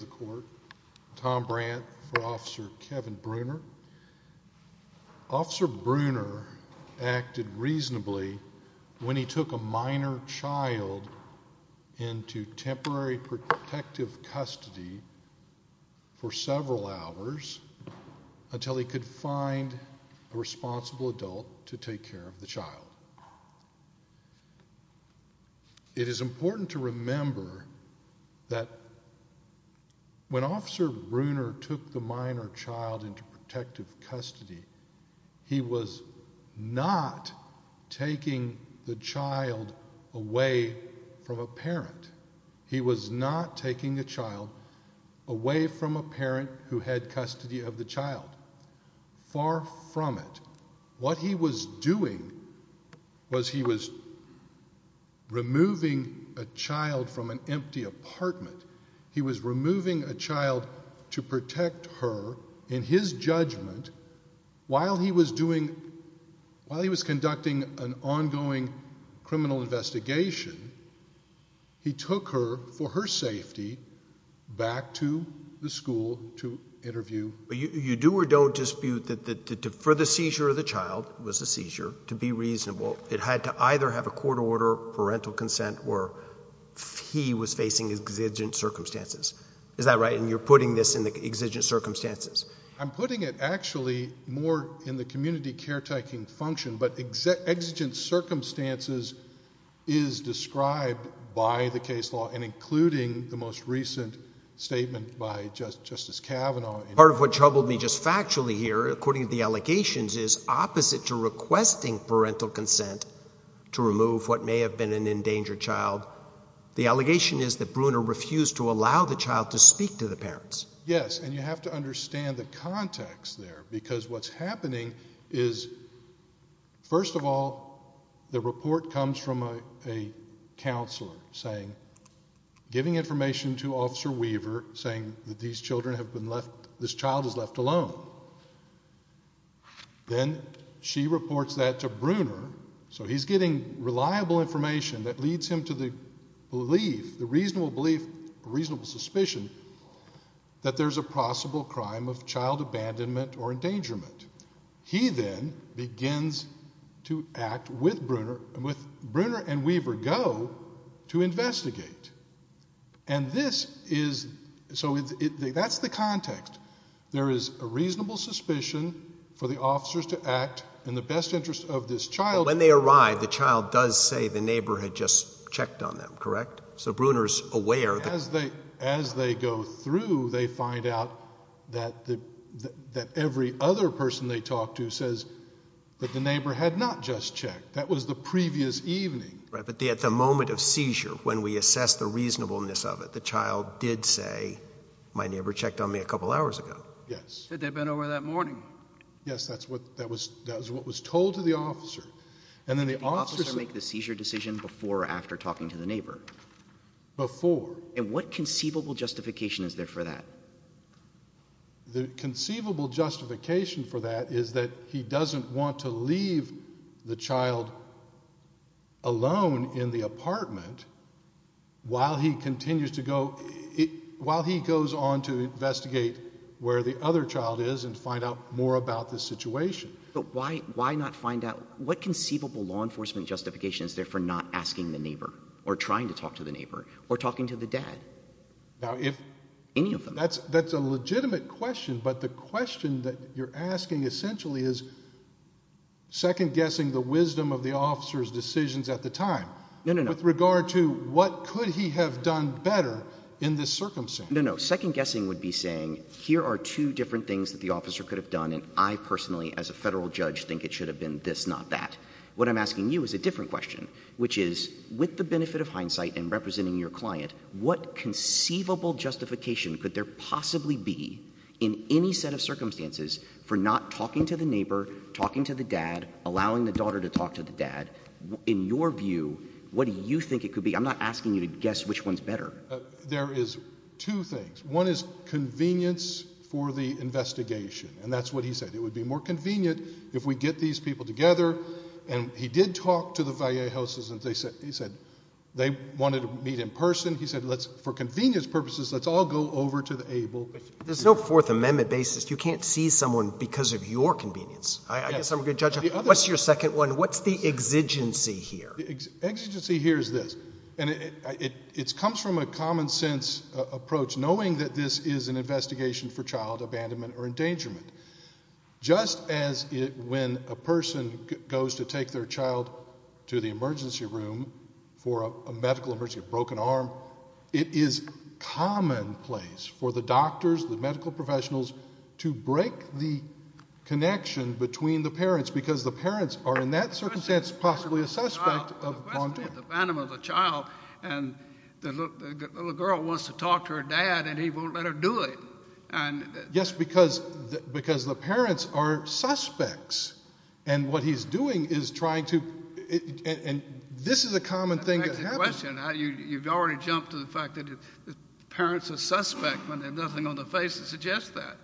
the court, Tom Brandt for Officer Kevin Bruner. Officer Bruner acted reasonably when he took a minor child into temporary protective custody for several hours until he could find a responsible adult to take care of the child. It is important to remember that when Officer Bruner took the minor child into protective custody, he was not taking the child away from a parent. He was not taking the child away from a parent who had custody of the child. Far from it. What he was doing was he was removing a child from an empty apartment. He was removing a child in his judgment while he was conducting an ongoing criminal investigation. He took her for her safety back to the school to interview. You do or don't dispute that for the seizure of the child, it was a seizure, to be reasonable. It had to either have a court order, parental consent, or he was facing exigent circumstances. Is that right? And you're putting this in the exigent circumstances? I'm putting it actually more in the community caretaking function, but exigent circumstances is described by the case law and including the most recent statement by Justice Kavanaugh. Part of what troubled me just factually here, according to the allegations, is opposite to requesting parental consent to remove what may have been an endangered child. The allegation is that Bruner refused to allow the child to speak to the parents. Yes, and you have to understand the context there, because what's happening is, first of all, the report comes from a counselor saying, giving information to Officer Weaver saying that these children have been left, this child is left alone. Then she reports that to Bruner, so he's getting reliable information that leads him to the the reasonable belief, reasonable suspicion, that there's a possible crime of child abandonment or endangerment. He then begins to act with Bruner, and with Bruner and Weaver go to investigate. And this is, so that's the context. There is a reasonable suspicion for the officers to act in the best interest of this child. When they arrive, the child does say the neighbor had just checked on them, correct? So Bruner's aware. As they go through, they find out that every other person they talk to says that the neighbor had not just checked. That was the previous evening. Right, but at the moment of seizure, when we assess the reasonableness of it, the child did say, my neighbor checked on me a couple hours ago. Yes. Said they'd been over that morning. Yes, that's what, that was, that was what was told to the officer. And then the officer makes the seizure decision before or after talking to the neighbor. Before. And what conceivable justification is there for that? The conceivable justification for that is that he doesn't want to leave the child alone in the apartment while he continues to go, while he goes on to investigate where the other child is and find out more about the situation. But why, why not find out, what conceivable law enforcement justification is there for not asking the neighbor or trying to talk to the neighbor or talking to the dad? Now if. Any of them. That's, that's a legitimate question, but the question that you're asking essentially is second guessing the wisdom of the officer's decisions at the time. No, no, no. With regard to what could he have done better in this circumstance? No, no. Second guessing would be saying here are two different things that the officer could have done and I personally as a federal judge think it should have been this, not that. What I'm asking you is a different question, which is with the benefit of hindsight and representing your client, what conceivable justification could there possibly be in any set of circumstances for not talking to the neighbor, talking to the dad, allowing the daughter to talk to the dad? In your view, what do you think it could be? I'm not asking you to guess which one's better. There is two things. One is convenience for the investigation and that's what he said. It would be more convenient if we get these people together and he did talk to the Vallejos and they said, he said they wanted to meet in person. He said, let's, for convenience purposes, let's all go over to the able. There's no fourth amendment basis. You can't see someone because of your convenience. I guess I'm a good judge. What's your second one? What's the exigency here? Exigency here is this. And it comes from a common sense approach, knowing that this is an investigation for child abandonment or endangerment. Just as when a person goes to take their child to the emergency room for a medical emergency, a broken arm, it is commonplace for the doctors, the medical professionals to break the connection between the parents because the parents are in that circumstance possibly a suspect of the child. And the little girl wants to talk to her dad and he won't let her do it. And yes, because, because the parents are suspects and what he's doing is trying to, and this is a common thing. You've already jumped to the fact that the parents are suspect when they have nothing on the face to suggest that.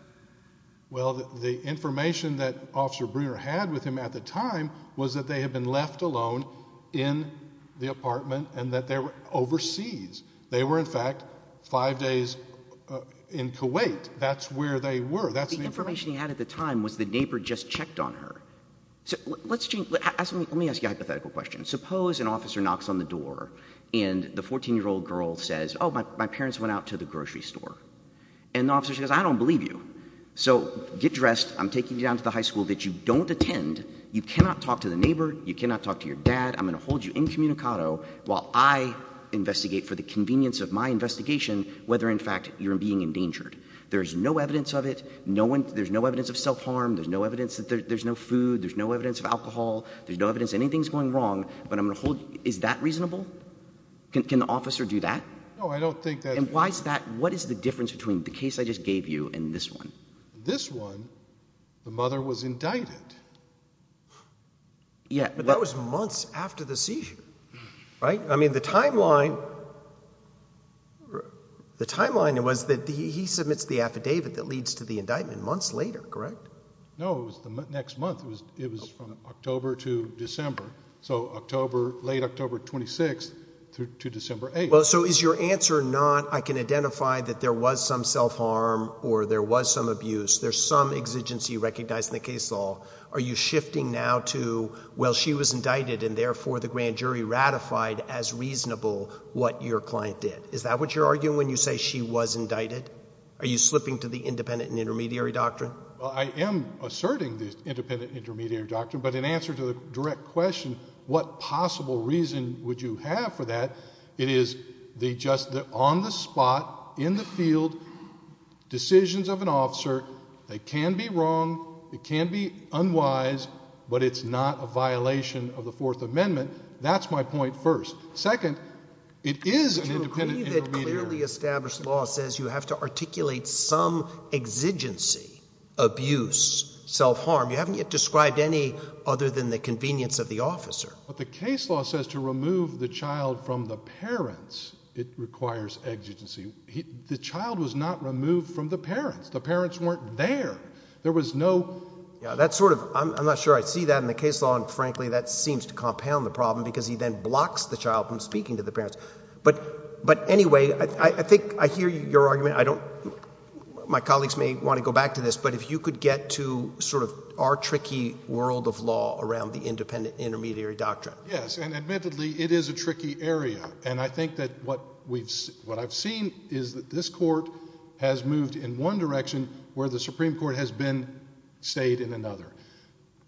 Well, the information that officer Brewer had with him at the time was that they had been left alone in the apartment and that they were overseas. They were in fact five days in Kuwait. That's where they were. That's the information he had at the time was the neighbor just checked on her. So let's change, let me ask you a hypothetical question. Suppose an officer knocks on the door and the 14 year old girl says, oh, my parents went out to the grocery store and the officer says, I don't believe you. So get dressed. I'm taking you down to the high school that you don't attend. You cannot talk to the neighbor. You cannot talk to your dad. I'm going to hold you incommunicado while I investigate for the convenience of my investigation, whether in fact you're being endangered. There's no evidence of it. No one, there's no evidence of self-harm. There's no evidence that there's no food. There's no evidence of alcohol. There's no evidence anything's going wrong, but I'm going to hold. Is that reasonable? Can the officer do that? No, I don't think that. And why is that? What is the difference between the case I just gave you and this one? This one, the mother was indicted. Yeah, but that was months after the seizure, right? I mean, the timeline, the timeline was that he submits the affidavit that leads to the indictment months later, correct? No, it was the next month. It was from October to December. So October, late October 26th through to December 8th. Well, so is your answer not, I can identify that there was some self-harm or there was some abuse, there's some exigency recognized in the case law. Are you shifting now to, well, she was indicted and therefore the grand jury ratified as reasonable what your client did? Is that what you're arguing when you say she was indicted? Are you slipping to the independent and intermediary doctrine? Well, I am asserting this independent and intermediary doctrine, but in answer to the direct question, what possible reason would you have for that? It is the just, on the spot, in the field, decisions of an officer that can be wrong, it can be unwise, but it's not a violation of the fourth amendment. That's my point first. Second, it is an independent and intermediary. Do you agree that clearly established law says you have to articulate some exigency, abuse, self-harm? You haven't yet described any other than the convenience of the officer. But the case law says to remove the child from the parents, it requires exigency. The child was not removed from the parents. The parents weren't there. There was no... Yeah, that's sort of, I'm not sure I see that in the case law, and frankly, that seems to compound the problem because he then blocks the child from speaking to the parents. But anyway, I think I hear your argument. I don't, my colleagues may want to go back to this, but if you could get to sort of our tricky world of law around the independent and intermediary doctrine. Yes, and admittedly, it is a tricky area. And I think that what I've seen is that this court has moved in one direction where the Supreme Court has been stayed in another.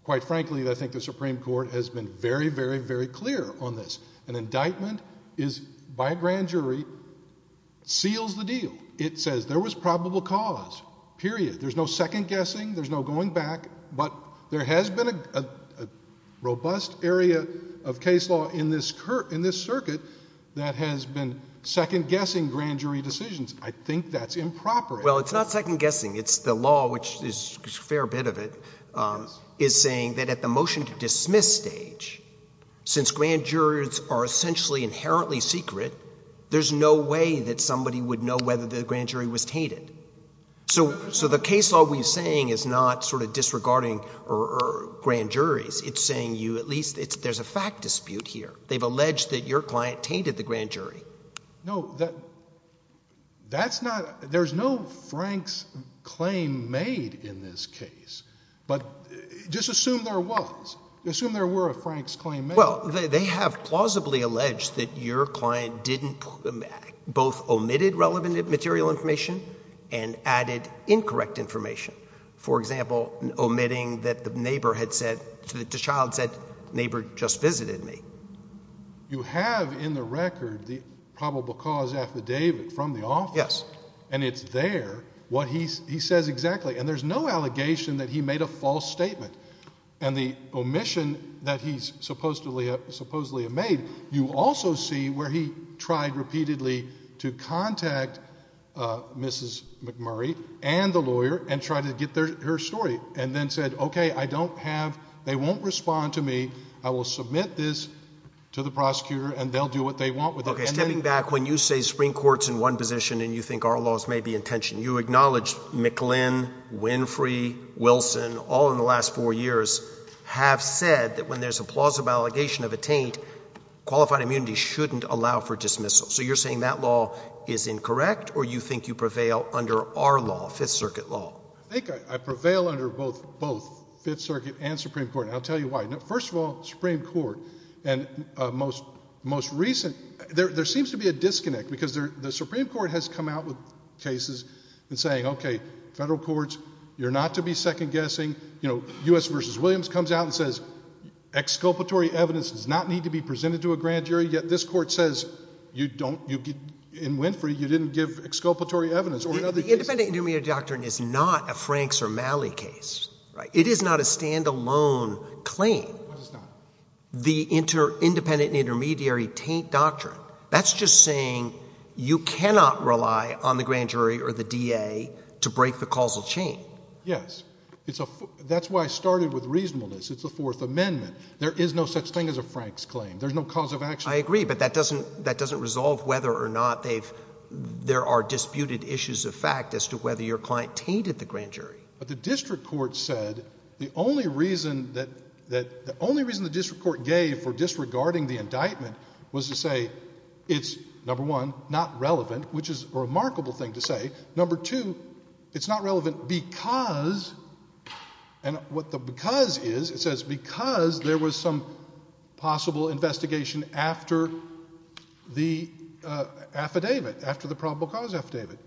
Quite frankly, I think the Supreme Court has been very, very, very clear on this. An indictment is, by a grand jury, seals the deal. It says there was probable cause, period. There's no second guessing. There's no going back. But there has been a robust area of case law in this circuit that has been second guessing grand jury decisions. I think that's improper. Well, it's not second guessing. The law, which is a fair bit of it, is saying that at the motion to dismiss stage, since grand jurors are essentially inherently secret, there's no way that somebody would know whether the grand jury was tainted. So the case law we're saying is not sort of disregarding grand juries. It's saying you at least, there's a fact dispute here. They've alleged that your client tainted the grand jury. No, that's not, there's no Frank's claim made in this case. But just assume there was. Assume there were a Frank's claim made. Well, they have plausibly alleged that your client didn't, both omitted relevant material information and added incorrect information. For example, omitting that the neighbor had said, the child said, neighbor just visited me. You have in the record the probable cause affidavit from the office. Yes. And it's there what he says exactly. And there's no allegation that he made a false statement. And the omission that he's supposedly made, you also see where he tried repeatedly to contact Mrs. McMurray and the lawyer and try to get their story and then said, okay, I don't have, they won't respond to me. I will submit this to the prosecutor and they'll do what they want with it. Okay. Stepping back, when you say Supreme Court's in one position and you think our laws may be in tension, you acknowledge McLin, Winfrey, Wilson, all in the last four years have said that when there's a plausible allegation of a taint, qualified immunity shouldn't allow for dismissal. So you're saying that law is incorrect or you think you prevail under our law, Fifth Circuit law? I think I prevail under both, both Fifth Circuit and Supreme Court. And I'll tell you why. First of all, Supreme Court and most recent, there seems to be a disconnect because the Supreme Court has come out with cases and saying, okay, federal courts, you're not to be second guessing. You know, U.S. versus Williams comes out and says exculpatory evidence does not need to be presented to a grand jury. Yet this court says you don't, in Winfrey, you didn't give exculpatory evidence or in other cases. The independent intermediary doctrine is not a Franks or Malley case, right? It is not a standalone claim. What is not? The inter, independent intermediary taint doctrine. That's just saying you cannot rely on the grand jury or the DA to break the causal chain. Yes. It's a, that's why I started with reasonableness. It's the Fourth Amendment. There is no such thing as a Franks claim. There's no cause of action. I agree, but that doesn't, that doesn't resolve whether or not they've, there are disputed issues of fact as to whether your client tainted the grand jury. But the district court said the only reason that, that the only reason the district court gave for disregarding the indictment was to say it's number one, not relevant, which is a remarkable thing to say. Number two, it's not relevant because, and what the because is, it says because there was some possible investigation after the affidavit, after the probable cause affidavit.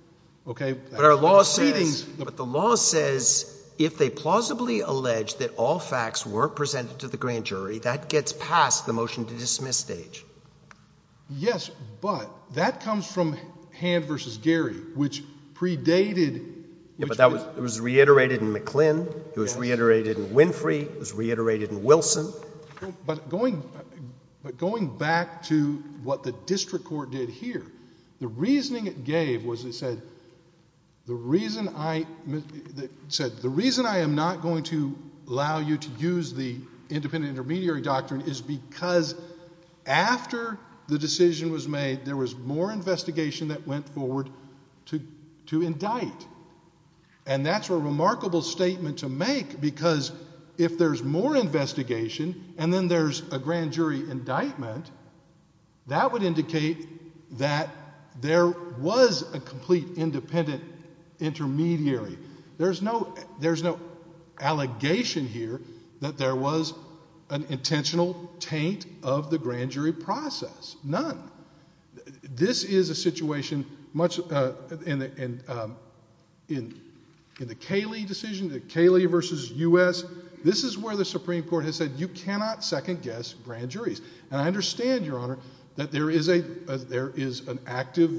Okay. But our law says, but the law says if they plausibly allege that all facts were presented to the grand jury, that gets past the motion to dismiss stage. Yes, but that comes from Hand v. Gary, which predated. Yeah, but that was, it was reiterated in McClin. It was reiterated in Winfrey. It was reiterated in Wilson. But going, but going back to what the district court did here, the reasoning it gave was it said the reason I, it said the reason I am not going to allow you to use the independent intermediary doctrine is because after the decision was made, there was more investigation that went forward to, to indict. And that's a remarkable statement to make because if there's more investigation and then there's a grand jury indictment, that would indicate that there was a complete independent intermediary. There's no, there's no allegation here that there was an intentional taint of the grand jury process. None. This is a situation much in the, in, in, in the Cayley decision, the Cayley v. U.S. This is where the Supreme Court has said, you cannot second guess grand juries. And I understand, Your Honor, that there is a, there is an active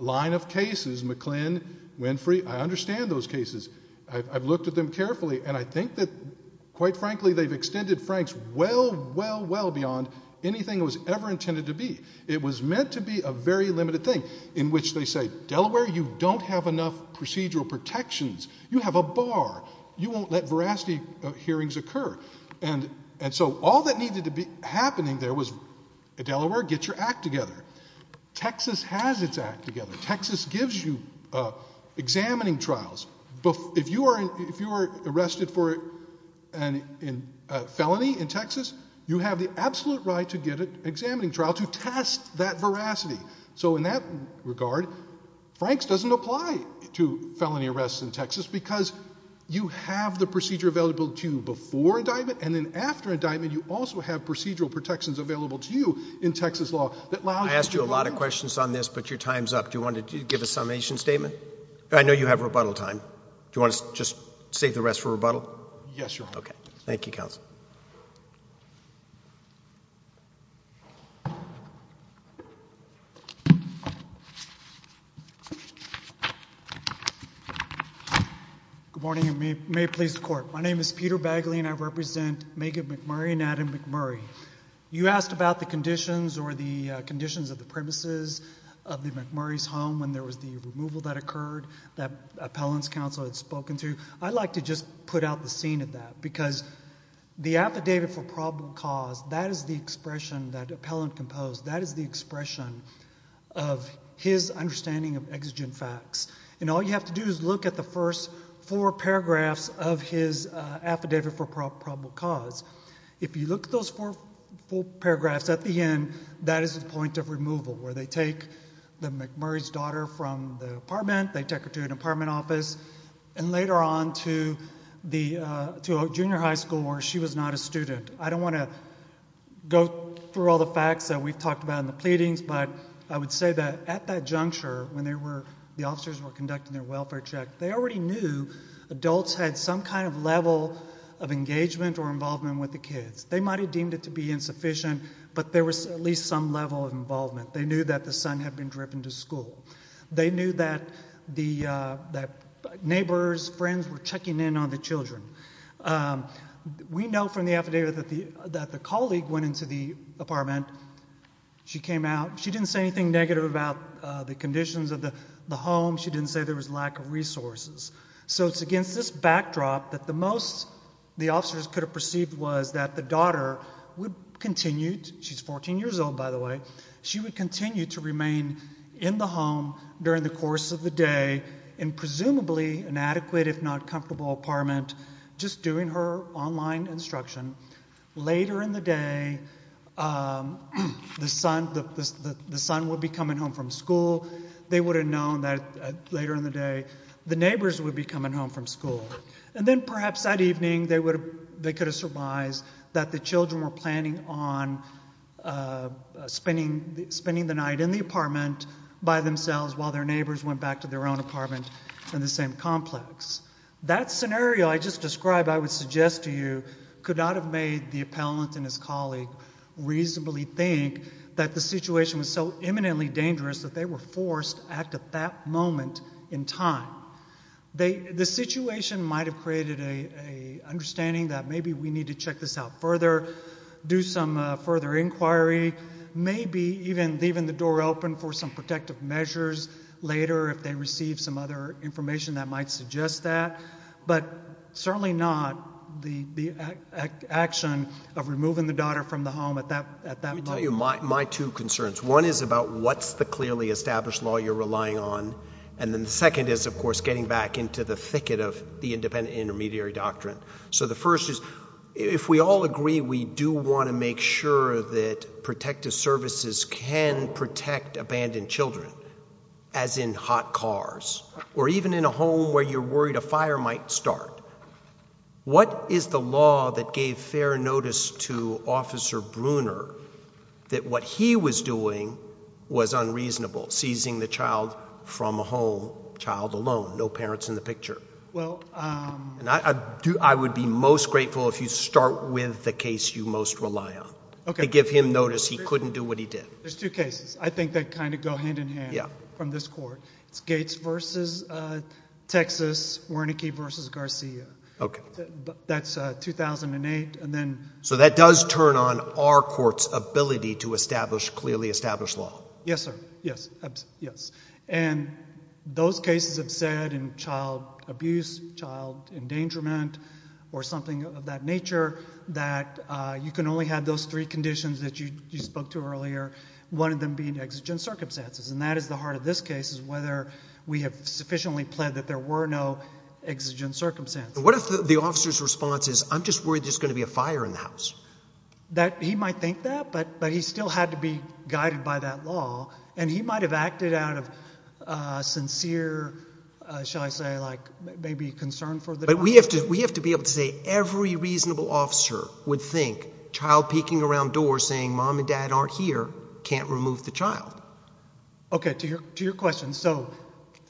line of cases, McClin, Winfrey. I understand those cases. I've looked at them carefully and I think that quite frankly, they've extended Franks well, well, well beyond anything it was ever intended to be. It was meant to be a very limited thing in which they say, Delaware, you don't have enough procedural protections. You have a bar. You won't let veracity hearings occur. And, and so all that needed to be happening there was, Delaware, get your act together. Texas has its act together. Texas gives you examining trials. But if you are, if you are arrested for a felony in Texas, you have the absolute right to get an examining trial to test that veracity. So in that regard, Franks doesn't apply to felony arrests in Texas because you have the procedure available to you before indictment. And then after indictment, you also have procedural protections available to you in Texas law. I asked you a lot of questions on this, but your time's up. Do you want to give a summation statement? I know you have rebuttal time. Do you want to just save the rest for rebuttal? Yes, Your Honor. Okay. Thank you, counsel. Good morning and may it please the court. My name is Peter Bagley and I represent Megan McMurray and Adam McMurray. You asked about the conditions or the conditions of the premises of the McMurray's home when there was the removal that occurred that appellant's counsel had spoken to. I'd like to just put out the scene of that because the affidavit for problem caused, that is the expression that appellant composed. That is the expression of his understanding of exigent facts. And all you have to do is look at the first four paragraphs of his affidavit for probable cause. If you look at those four paragraphs at the end, that is the point of removal where they take McMurray's daughter from the apartment, they take her to an apartment office, and I don't want to go through all the facts that we've talked about in the pleadings, but I would say that at that juncture, when the officers were conducting their welfare check, they already knew adults had some kind of level of engagement or involvement with the kids. They might have deemed it to be insufficient, but there was at least some level of involvement. They knew that the son had been driven to school. They knew that neighbors, friends were checking in on the children. We know from the affidavit that the colleague went into the apartment. She came out. She didn't say anything negative about the conditions of the home. She didn't say there was lack of resources. So it's against this backdrop that the most the officers could have perceived was that the daughter would continue. She's 14 years old, by the way. She would continue to remain in the home during the course of the day in presumably inadequate, if not comfortable apartment, just doing her online instruction. Later in the day, the son would be coming home from school. They would have known that later in the day, the neighbors would be coming home from school. And then perhaps that evening, they could have surmised that the children were planning on spending the night in the apartment by themselves while their neighbors went back to their own apartment in the same complex. That scenario I just described, I would suggest to you, could not have made the appellant and his colleague reasonably think that the situation was so imminently dangerous that they were forced to act at that moment in time. The situation might have created an understanding that maybe we need to check this out further, do some further inquiry, maybe even leaving the door open for some protective measures later if they receive some other information that might suggest that. But certainly not the action of removing the daughter from the home at that moment. Let me tell you my two concerns. One is about what's the clearly established law you're relying on. And then the second is, of course, getting back into the thicket of the independent intermediary doctrine. So the first is, if we all agree we do want to make sure that protective services can protect abandoned children, as in hot cars, or even in a home where you're worried a fire might start, what is the law that gave fair notice to Officer Bruner that what he was doing was unreasonable, seizing the child from a home, child alone, no parents in the picture? I would be most grateful if you start with the case you most rely on to give him notice he couldn't do what he did. There's two cases. I think they kind of go hand in hand from this court. It's Gates versus Texas, Wernicke versus Garcia. OK. That's 2008. And then— So that does turn on our court's ability to establish clearly established law. Yes, sir. Yes. Yes. And those cases have said in child abuse, child endangerment, or something of that nature that you can only have those three conditions that you spoke to earlier, one of them being exigent circumstances. And that is the heart of this case, is whether we have sufficiently pled that there were no exigent circumstances. What if the officer's response is, I'm just worried there's going to be a fire in the house? He might think that, but he still had to be guided by that law. And he might have acted out of sincere, shall I say, like maybe concern for the child. But we have to be able to say every reasonable officer would think child peeking around doors saying mom and dad aren't here can't remove the child. OK, to your question. So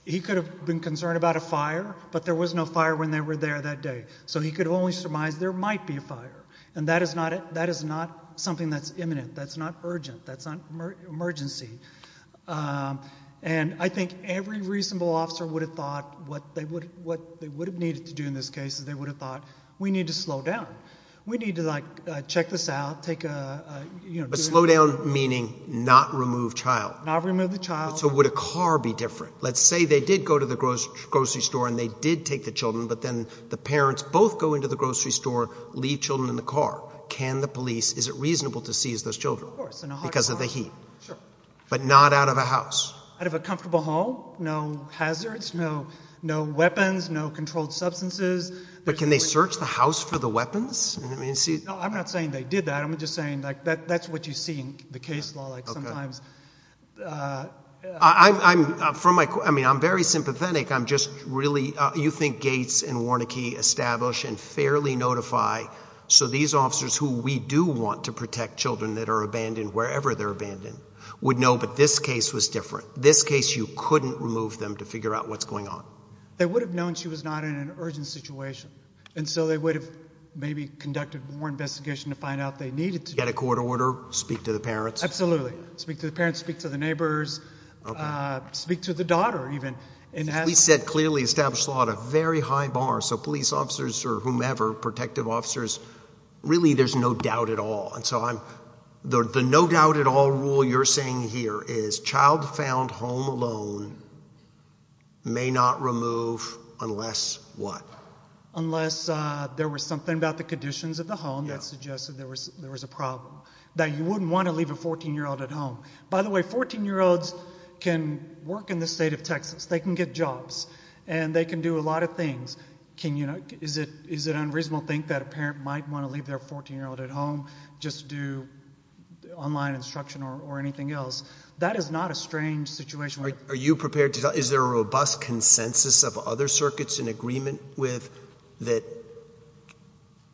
he could have been concerned about a fire, but there was no fire when they were there that day. So he could only surmise there might be a fire. And that is not something that's imminent. That's not urgent. That's not emergency. And I think every reasonable officer would have thought what they would have needed to do in this case is they would have thought, we need to slow down. We need to like check this out, take a, you know. But slow down meaning not remove child. Not remove the child. So would a car be different? Let's say they did go to the grocery store and they did take the children, but then the parents both go into the grocery store, leave children in the car. Can the police, is it reasonable to seize those children? Of course. Because of the heat. Sure. But not out of a house. Out of a comfortable home. No hazards. No weapons. No controlled substances. But can they search the house for the weapons? I'm not saying they did that. I'm just saying that's what you see in the case law sometimes. I'm very sympathetic. I'm just really, you think Gates and Warneke establish and fairly notify so these officers who we do want to protect children that are abandoned, wherever they're abandoned, would know, but this case was different. This case, you couldn't remove them to figure out what's going on. They would have known she was not in an urgent situation. And so they would have maybe conducted more investigation to find out if they needed to. Get a court order, speak to the parents. Absolutely. Speak to the parents, speak to the neighbors, speak to the daughter even. We said clearly established law at a very high bar. So police officers or whomever, protective officers, really there's no doubt at all. The no doubt at all rule you're saying here is child found home alone may not remove unless what? Unless there was something about the conditions of the home that suggested there was a problem. That you wouldn't want to leave a 14-year-old at home. By the way, 14-year-olds can work in the state of Texas. They can get jobs. And they can do a lot of things. Is it unreasonable to think that a parent might want to leave their 14-year-old at home just to do online instruction or anything else? That is not a strange situation. Are you prepared to tell? Is there a robust consensus of other circuits in agreement with that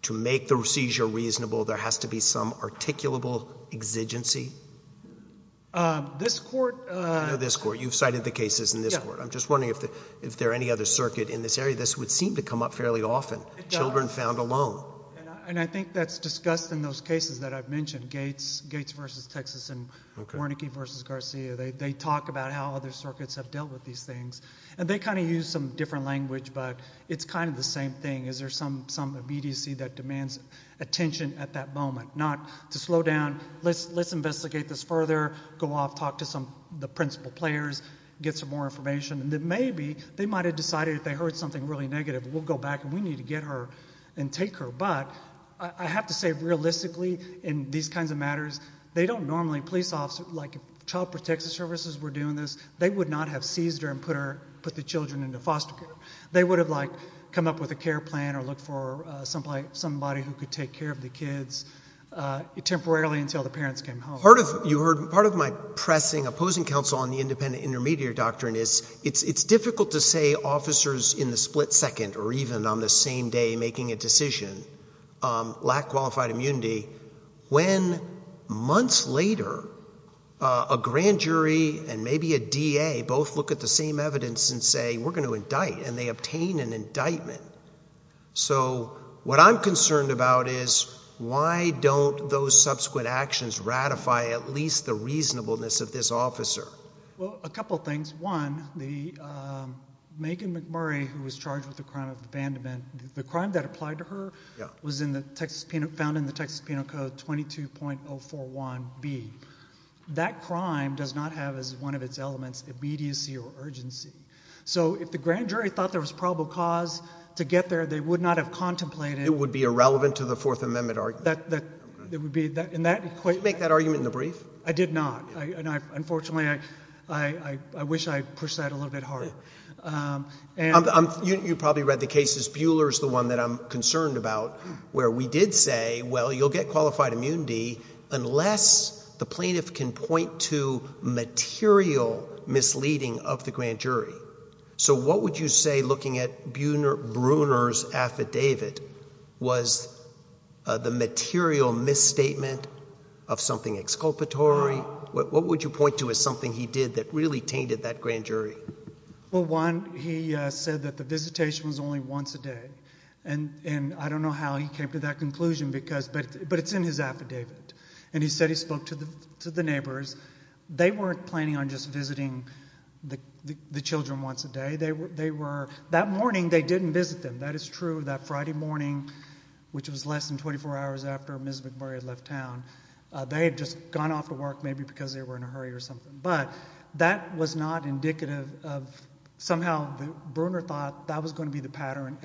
to make the seizure reasonable there has to be some articulable exigency? This court. This court. You've cited the cases in this court. I'm just wondering if there are any other circuit in this area. This would seem to come up fairly often. Children found alone. And I think that's discussed in those cases that I've mentioned. Gates versus Texas and Wernicke versus Garcia. They talk about how other circuits have dealt with these things. And they kind of use some different language. But it's kind of the same thing. Is there some immediacy that demands attention at that moment? Not to slow down. Let's investigate this further. Go off. Talk to some of the principal players. Get some more information. And then maybe they might have decided they heard something really negative. We'll go back. We need to get her and take her. But I have to say realistically in these kinds of matters, they don't normally, police officers, like Child Protective Services were doing this, they would not have seized her and put the children into foster care. They would have come up with a care plan or look for somebody who could take care of the kids temporarily until the parents came home. Part of my pressing opposing counsel on the independent intermediary doctrine is it's difficult to say officers in the split second or even on the same day making a decision lack qualified immunity when months later a grand jury and maybe a DA both look at the same evidence and say, we're going to indict. And they obtain an indictment. So what I'm concerned about is why don't those subsequent actions ratify at least the reasonableness of this officer? Well, a couple things. One, the Megan McMurray who was charged with the crime of abandonment, the crime that applied to her was found in the Texas Penal Code 22.041B. That crime does not have as one of its elements immediacy or urgency. So if the grand jury thought there was probable cause to get there, they would not have contemplated It would be irrelevant to the Fourth Amendment argument. That would be, in that equation Did you make that argument in the brief? I did not. Unfortunately, I wish I pushed that a little bit harder. You probably read the cases. Buhler is the one that I'm concerned about where we did say, well, you'll get qualified immunity unless the plaintiff can point to material misleading of the grand jury. So what would you say looking at Bruner's affidavit was the material misstatement of something exculpatory? What would you point to as something he did that really tainted that grand jury? Well, one, he said that the visitation was only once a day. And I don't know how he came to that conclusion, but it's in his affidavit. And he said he spoke to the neighbors. They weren't planning on just visiting the children once a day. That morning, they didn't visit them. That is true. That Friday morning, which was less than 24 hours after Ms. McMurray had left town, they had just gone off to work, maybe because they were in a hurry or something. But that was not indicative of somehow Bruner thought that was going to be the pattern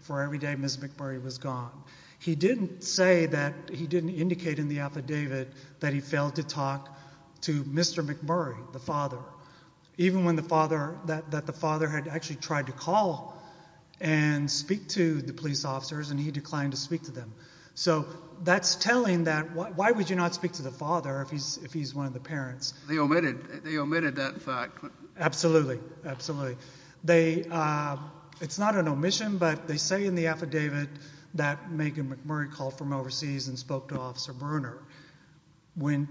for every day Ms. McMurray was gone. He didn't say that he didn't indicate in the affidavit that he failed to talk to Mr. McMurray, the father. Even when the father, that the father had actually tried to call and speak to the police officers, and he declined to speak to them. So that's telling that why would you not speak to the father if he's one of the parents? They omitted that fact. Absolutely, absolutely. It's not an omission, but they say in the affidavit that Megan McMurray called from overseas and spoke to Officer Bruner. When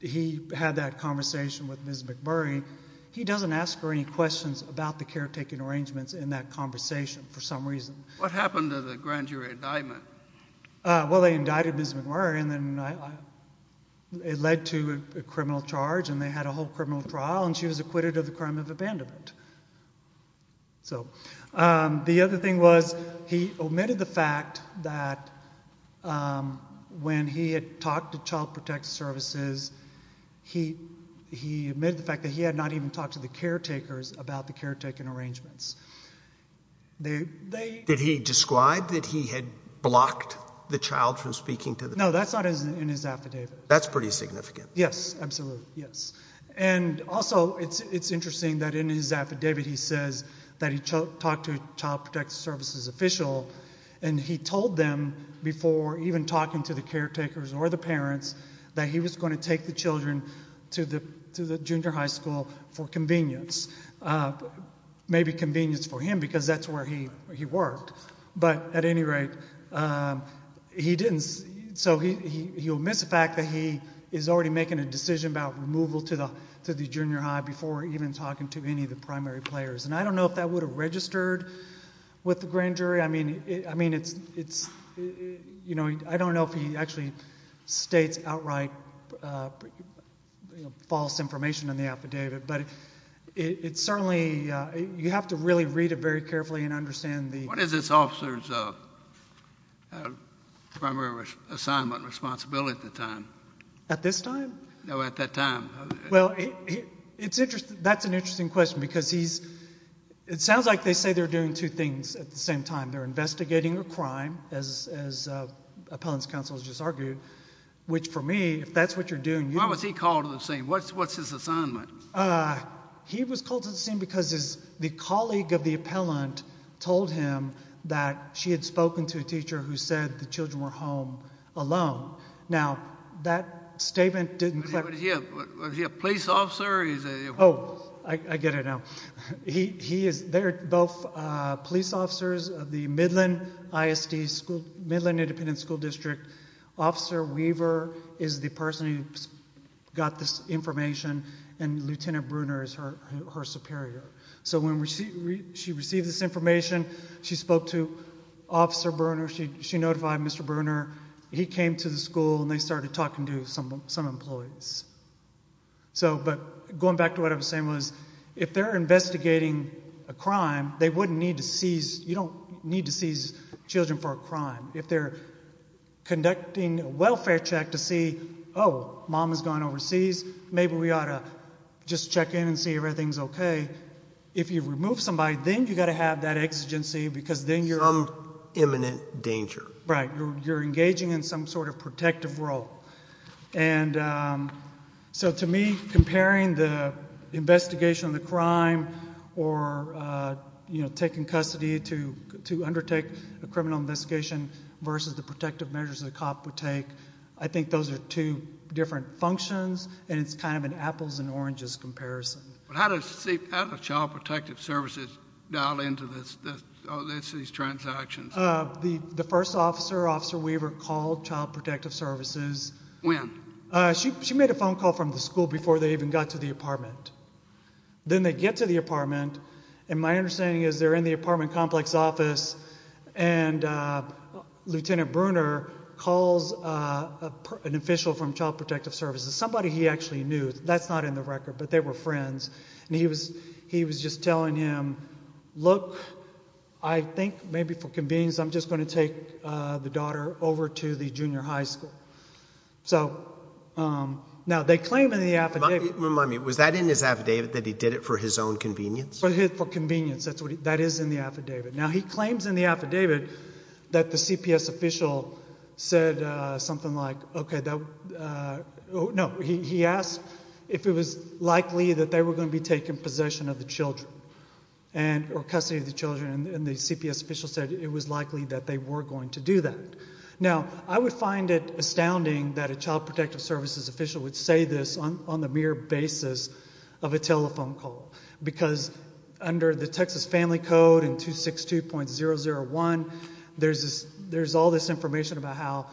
he had that conversation with Ms. McMurray, he doesn't ask her any questions about the caretaking arrangements in that conversation for some reason. What happened to the grand jury indictment? Well, they indicted Ms. McMurray and then it led to a criminal charge and they had a whole criminal trial and she was acquitted of the crime of abandonment. So, the other thing was he omitted the fact that when he had talked to Child Protect Services, he omitted the fact that he had not even talked to the caretakers about the caretaking arrangements. Did he describe that he had blocked the child from speaking to them? No, that's not in his affidavit. That's pretty significant. Yes, absolutely, yes. Also, it's interesting that in his affidavit he says that he talked to a Child Protect Services official and he told them before even talking to the caretakers or the parents that he was going to take the children to the junior high school for convenience, maybe convenience for him because that's where he worked. But, at any rate, he didn't. So, he omits the fact that he is already making a decision about removal to the junior high before even talking to any of the primary players. And I don't know if that would have registered with the grand jury. I mean, it's, you know, I don't know if he actually states outright false information in the affidavit, but it's certainly, you have to really read it very carefully and understand the... What is this officer's primary assignment and responsibility at the time? At this time? No, at that time. Well, that's an interesting question because he's, it sounds like they say they're doing two things at the same time. They're investigating a crime, as appellant's counsel has just argued, which for me, if that's what you're doing, you... Why was he called to the scene? What's his assignment? Uh, he was called to the scene because his, the colleague of the appellant told him that she had spoken to a teacher who said the children were home alone. Now, that statement didn't... Was he a police officer or is he a... Oh, I get it now. He is, they're both police officers of the Midland ISD school, Midland Independent School District. Officer Weaver is the person who got this information and Lieutenant Bruner is her superior. So when she received this information, she spoke to Officer Bruner, she notified Mr. Bruner. He came to the school and they started talking to some employees. So, but going back to what I was saying was, if they're investigating a crime, they wouldn't need to seize, you don't need to seize children for a crime. If they're conducting a welfare check to see, oh, mom has gone overseas, maybe we ought to just check in and see if everything's okay. If you remove somebody, then you got to have that exigency because then you're... Some imminent danger. Right. You're engaging in some sort of protective role. And, um, so to me, comparing the investigation of the crime or, uh, you know, taking custody to undertake a criminal investigation versus the protective measures that a cop would take, I think those are two different functions and it's kind of an apples and oranges comparison. But how does Child Protective Services dial into this, these transactions? The first officer, Officer Weaver, called Child Protective Services. When? She made a phone call from the school before they even got to the apartment. Then they get to the apartment and my understanding is they're in the apartment complex office and, uh, Lieutenant Brunner calls, uh, an official from Child Protective Services, somebody he actually knew. That's not in the record, but they were friends. And he was, he was just telling him, look, I think maybe for convenience, I'm just going to take, uh, the daughter over to the junior high school. So, um, now they claim in the affidavit... In his affidavit that he did it for his own convenience? For his, for convenience. That's what, that is in the affidavit. Now he claims in the affidavit that the CPS official said, uh, something like, okay, that, uh, no, he, he asked if it was likely that they were going to be taking possession of the children and, or custody of the children. And the CPS official said it was likely that they were going to do that. Now, I would find it astounding that a Child Protective Services official would say this on the mere basis of a telephone call. Because under the Texas Family Code in 262.001, there's this, there's all this information about how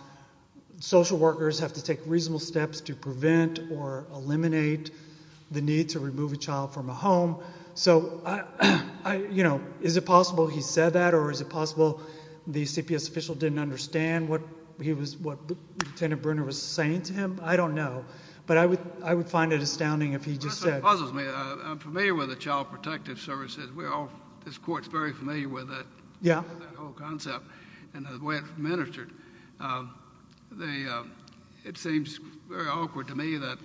social workers have to take reasonable steps to prevent or eliminate the need to remove a child from a home. So I, I, you know, is it possible he said that? Or is it possible the CPS official didn't understand what he was, what Lieutenant Brunner was saying to him? I don't know. But I would, I would find it astounding if he just said... That's what puzzles me. I'm familiar with the Child Protective Services. We're all, this court's very familiar with that. Yeah. That whole concept and the way it's administered. They, uh, it seems very awkward to me that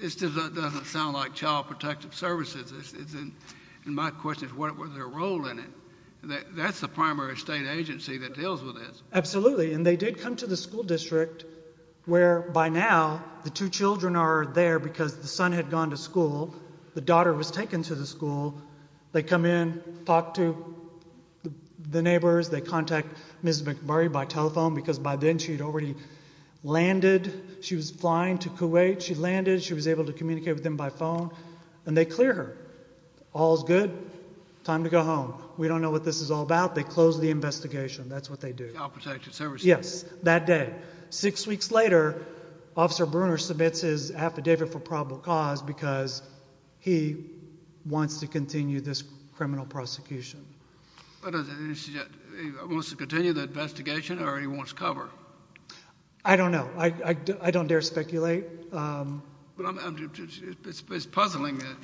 it's just, it doesn't sound like Child Protective Services. It's, it's, and my question is what was their role in it? That's the primary state agency that deals with this. Absolutely. And they did come to the school district where by now the two children are there because the son had gone to school. The daughter was taken to the school. They come in, talk to the neighbors. They contact Ms. McMurray by telephone because by then she'd already landed. She was flying to Kuwait. She landed. She was able to communicate with them by phone and they clear her. All's good. Time to go home. We don't know what this is all about. They close the investigation. That's what they do. Yes. That day. Six weeks later, Officer Bruner submits his affidavit for probable cause because he wants to continue this criminal prosecution. What does it suggest? He wants to continue the investigation or he wants cover? I don't know. I, I, I don't dare speculate. But I'm, it's puzzling that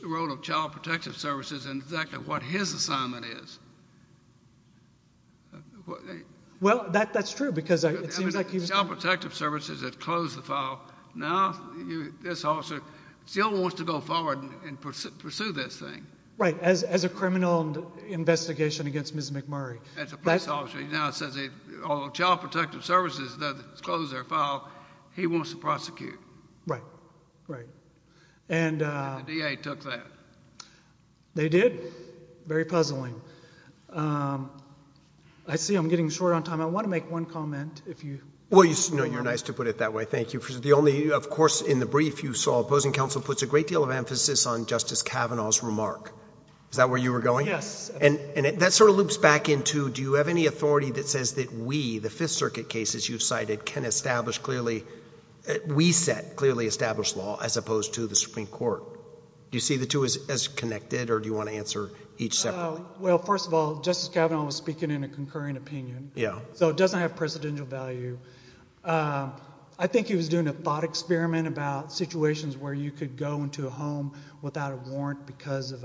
the role of Child Protective Services and exactly what his assignment is. Well, that, that's true because it seems like he was. Child Protective Services had closed the file. Now you, this officer still wants to go forward and pursue this thing. Right. As, as a criminal investigation against Ms. McMurray. As a police officer. He now says, although Child Protective Services does close their file, he wants to prosecute. Right. Right. And. The DA took that. They did. Very puzzling. Um, I see I'm getting short on time. I want to make one comment if you. Well, you know, you're nice to put it that way. Thank you. The only, of course, in the brief you saw opposing counsel puts a great deal of emphasis on Justice Kavanaugh's remark. Is that where you were going? Yes. And, and that sort of loops back into, do you have any authority that says that we, the Fifth Circuit cases you've cited can establish clearly, we set clearly established law as opposed to the Supreme Court? Do you see the two as, as connected or do you want to answer each separately? Well, first of all, Justice Kavanaugh was speaking in a concurring opinion. Yeah. So it doesn't have presidential value. I think he was doing a thought experiment about situations where you could go into a home without a warrant because of,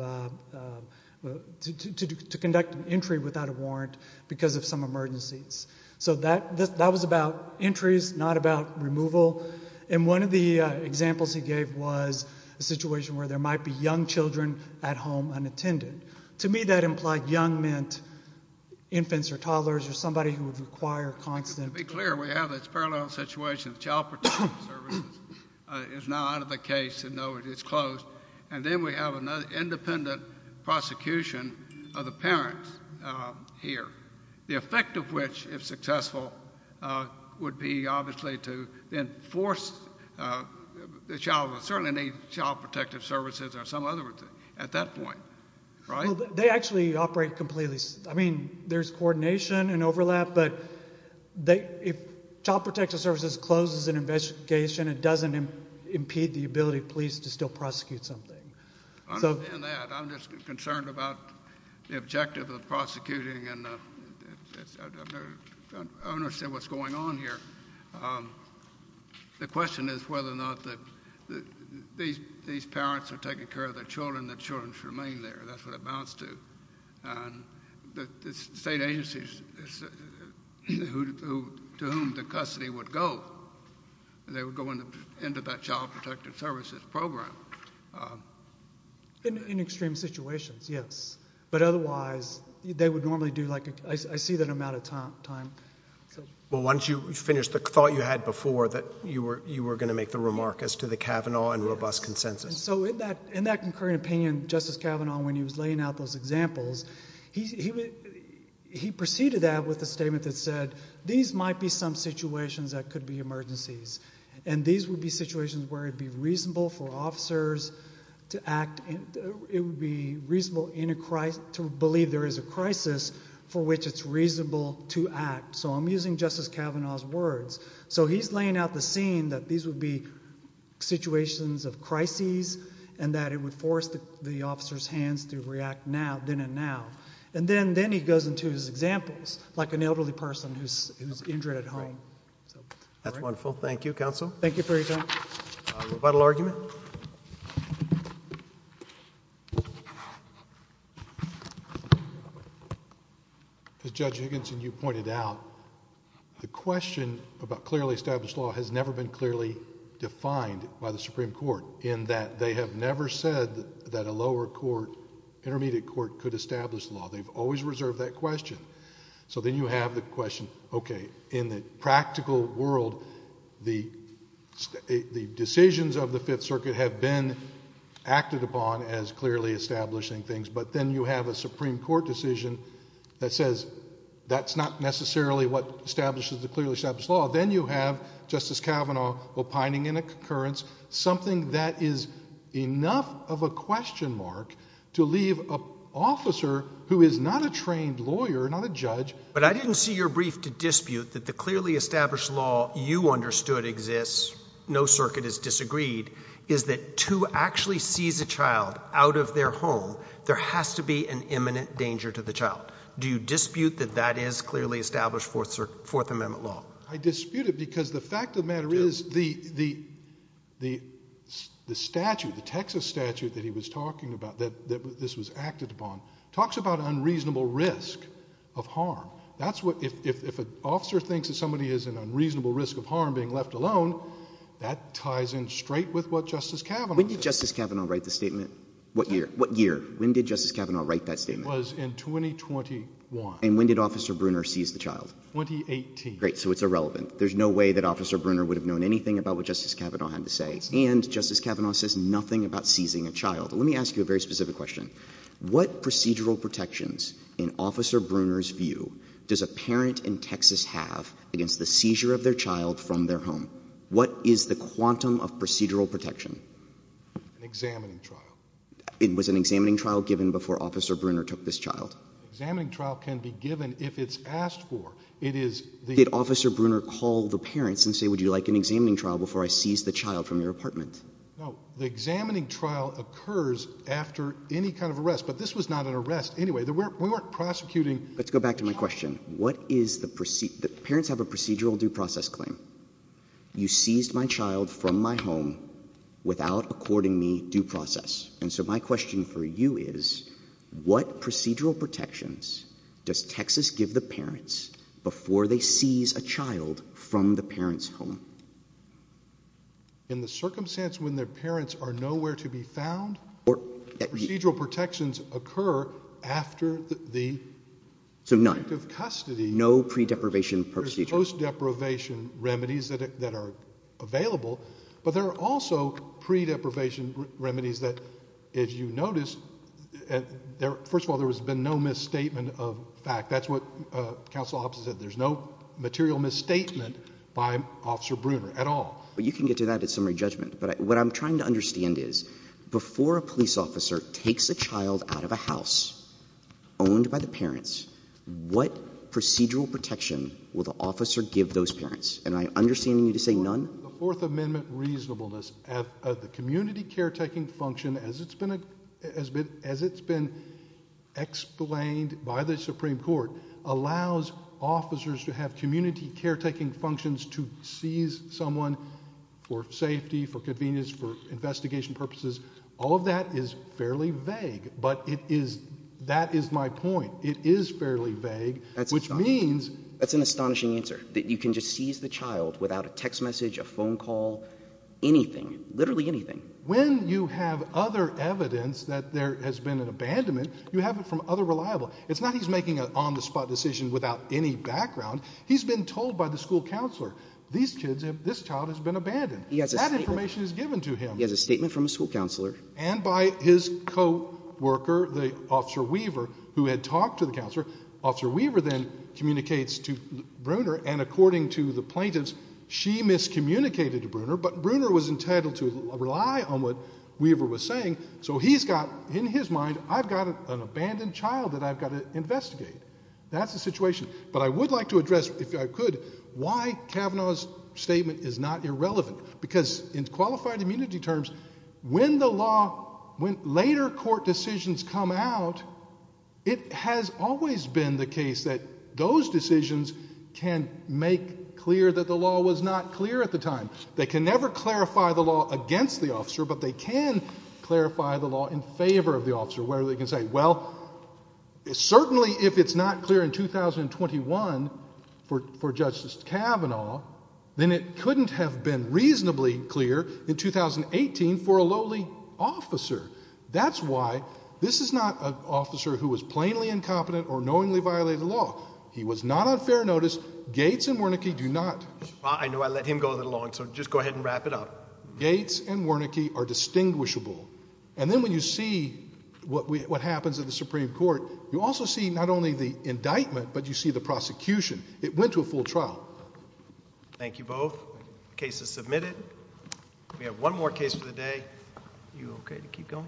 to conduct an entry without a warrant because of some emergencies. So that, that was about entries, not about removal. And one of the examples he gave was a situation where there might be young children at home unattended. To me, that implied young meant infants or toddlers or somebody who would require constant To be clear, we have this parallel situation of child protective services is now out of the case and now it is closed. And then we have another independent prosecution of the parents here. The effect of which, if successful, would be obviously to enforce, the child would certainly need child protective services or some other at that point. They actually operate completely. I mean, there's coordination and overlap, but they, if child protective services closes an investigation, it doesn't impede the ability of police to still prosecute something. I'm just concerned about the objective of prosecuting and I don't understand what's going on here. The question is whether or not that these, these parents are taking care of their children, that children should remain there. That's what it amounts to. And the state agencies to whom the custody would go, they would go into that child protective services program. In extreme situations, yes. But otherwise, they would normally do like, I see that amount of time. Well, once you finish the thought you had before that you were going to make the remark as to the Kavanaugh and robust consensus. So in that, in that concurrent opinion, Justice Kavanaugh, when he was laying out those examples, he, he, he proceeded that with a statement that said, these might be some situations that could be emergencies. And these would be situations where it'd be reasonable for officers to act and it would be reasonable in a crisis to believe there is a crisis for which it's reasonable to act. So I'm using Justice Kavanaugh's words. So he's laying out the scene that these would be situations of crises and that it would force the officer's hands to react now, then and now. And then, then he goes into his examples, like an elderly person who's, who's injured at home. That's wonderful. Thank you, counsel. Thank you for your time. A rebuttal argument? As Judge Higginson, you pointed out, the question about clearly established law has never been clearly defined by the Supreme Court in that they have never said that a lower court, intermediate court could establish law. They've always reserved that question. So then you have the question, okay, in the practical world, the, the decisions of the circuit have been acted upon as clearly establishing things. But then you have a Supreme Court decision that says that's not necessarily what establishes the clearly established law. Then you have Justice Kavanaugh opining in a concurrence, something that is enough of a question mark to leave an officer who is not a trained lawyer, not a judge. But I didn't see your brief to dispute that the clearly established law you understood exists, no circuit is disagreed, is that to actually seize a child out of their home, there has to be an imminent danger to the child. Do you dispute that that is clearly established Fourth Circuit, Fourth Amendment law? I dispute it because the fact of the matter is the, the, the, the statute, the Texas statute that he was talking about, that, that this was acted upon, talks about unreasonable risk of harm. That's what, if, if, if an officer thinks that somebody has an unreasonable risk of harm left alone, that ties in straight with what Justice Kavanaugh said. When did Justice Kavanaugh write the statement? What year? What year? When did Justice Kavanaugh write that statement? It was in 2021. And when did Officer Bruner seize the child? 2018. Great. So it's irrelevant. There's no way that Officer Bruner would have known anything about what Justice Kavanaugh had to say. And Justice Kavanaugh says nothing about seizing a child. Let me ask you a very specific question. What procedural protections, in Officer Bruner's view, does a parent in Texas have against the seizure of their child from their home? What is the quantum of procedural protection? An examining trial. It was an examining trial given before Officer Bruner took this child? Examining trial can be given if it's asked for. It is the— Did Officer Bruner call the parents and say, would you like an examining trial before I seize the child from your apartment? No. The examining trial occurs after any kind of arrest. But this was not an arrest anyway. We weren't prosecuting— Let's go back to my question. What is the—parents have a procedural due process claim. You seized my child from my home without according me due process. And so my question for you is, what procedural protections does Texas give the parents before they seize a child from the parent's home? In the circumstance when the parents are nowhere to be found, procedural protections occur after the— So none. In the context of custody— No pre-deprivation procedure. There's post-deprivation remedies that are available. But there are also pre-deprivation remedies that, if you notice, first of all, there has been no misstatement of fact. That's what counsel Hobson said, there's no material misstatement by Officer Bruner at all. But you can get to that at summary judgment. But what I'm trying to understand is, before a police officer takes a child out of a house owned by the parents, what procedural protection will the officer give those parents? And I'm understanding you to say none? Well, the Fourth Amendment reasonableness of the community caretaking function, as it's been explained by the Supreme Court, allows officers to have community caretaking functions to seize someone for safety, for convenience, for investigation purposes. All of that is fairly vague, but it is—that is my point. It is fairly vague, which means— That's astonishing. That's an astonishing answer, that you can just seize the child without a text message, a phone call, anything, literally anything. When you have other evidence that there has been an abandonment, you have it from other reliable—it's not he's making an on-the-spot decision without any background. He's been told by the school counselor, these kids have—this child has been abandoned. He has a statement— That information is given to him. He has a statement from a school counselor. And by his co-worker, the officer Weaver, who had talked to the counselor. Officer Weaver then communicates to Bruner, and according to the plaintiffs, she miscommunicated to Bruner, but Bruner was entitled to rely on what Weaver was saying, so he's got in his mind, I've got an abandoned child that I've got to investigate. That's the situation. But I would like to address, if I could, why Kavanaugh's statement is not irrelevant. Because in qualified immunity terms, when the law, when later court decisions come out, it has always been the case that those decisions can make clear that the law was not clear at the time. They can never clarify the law against the officer, but they can clarify the law in favor of the officer, where they can say, well, certainly if it's not clear in 2021 for Justice Kavanaugh, then it couldn't have been reasonably clear in 2018 for a lowly officer. That's why this is not an officer who is plainly incompetent or knowingly violated the law. He was not on fair notice. Gates and Wernicke do not. I know, I let him go a little long, so just go ahead and wrap it up. Gates and Wernicke are distinguishable. And then when you see what happens at the Supreme Court, you also see not only the indictment, but you see the prosecution. It went to a full trial. Thank you both. The case is submitted. We have one more case for the day. Are you okay to keep going?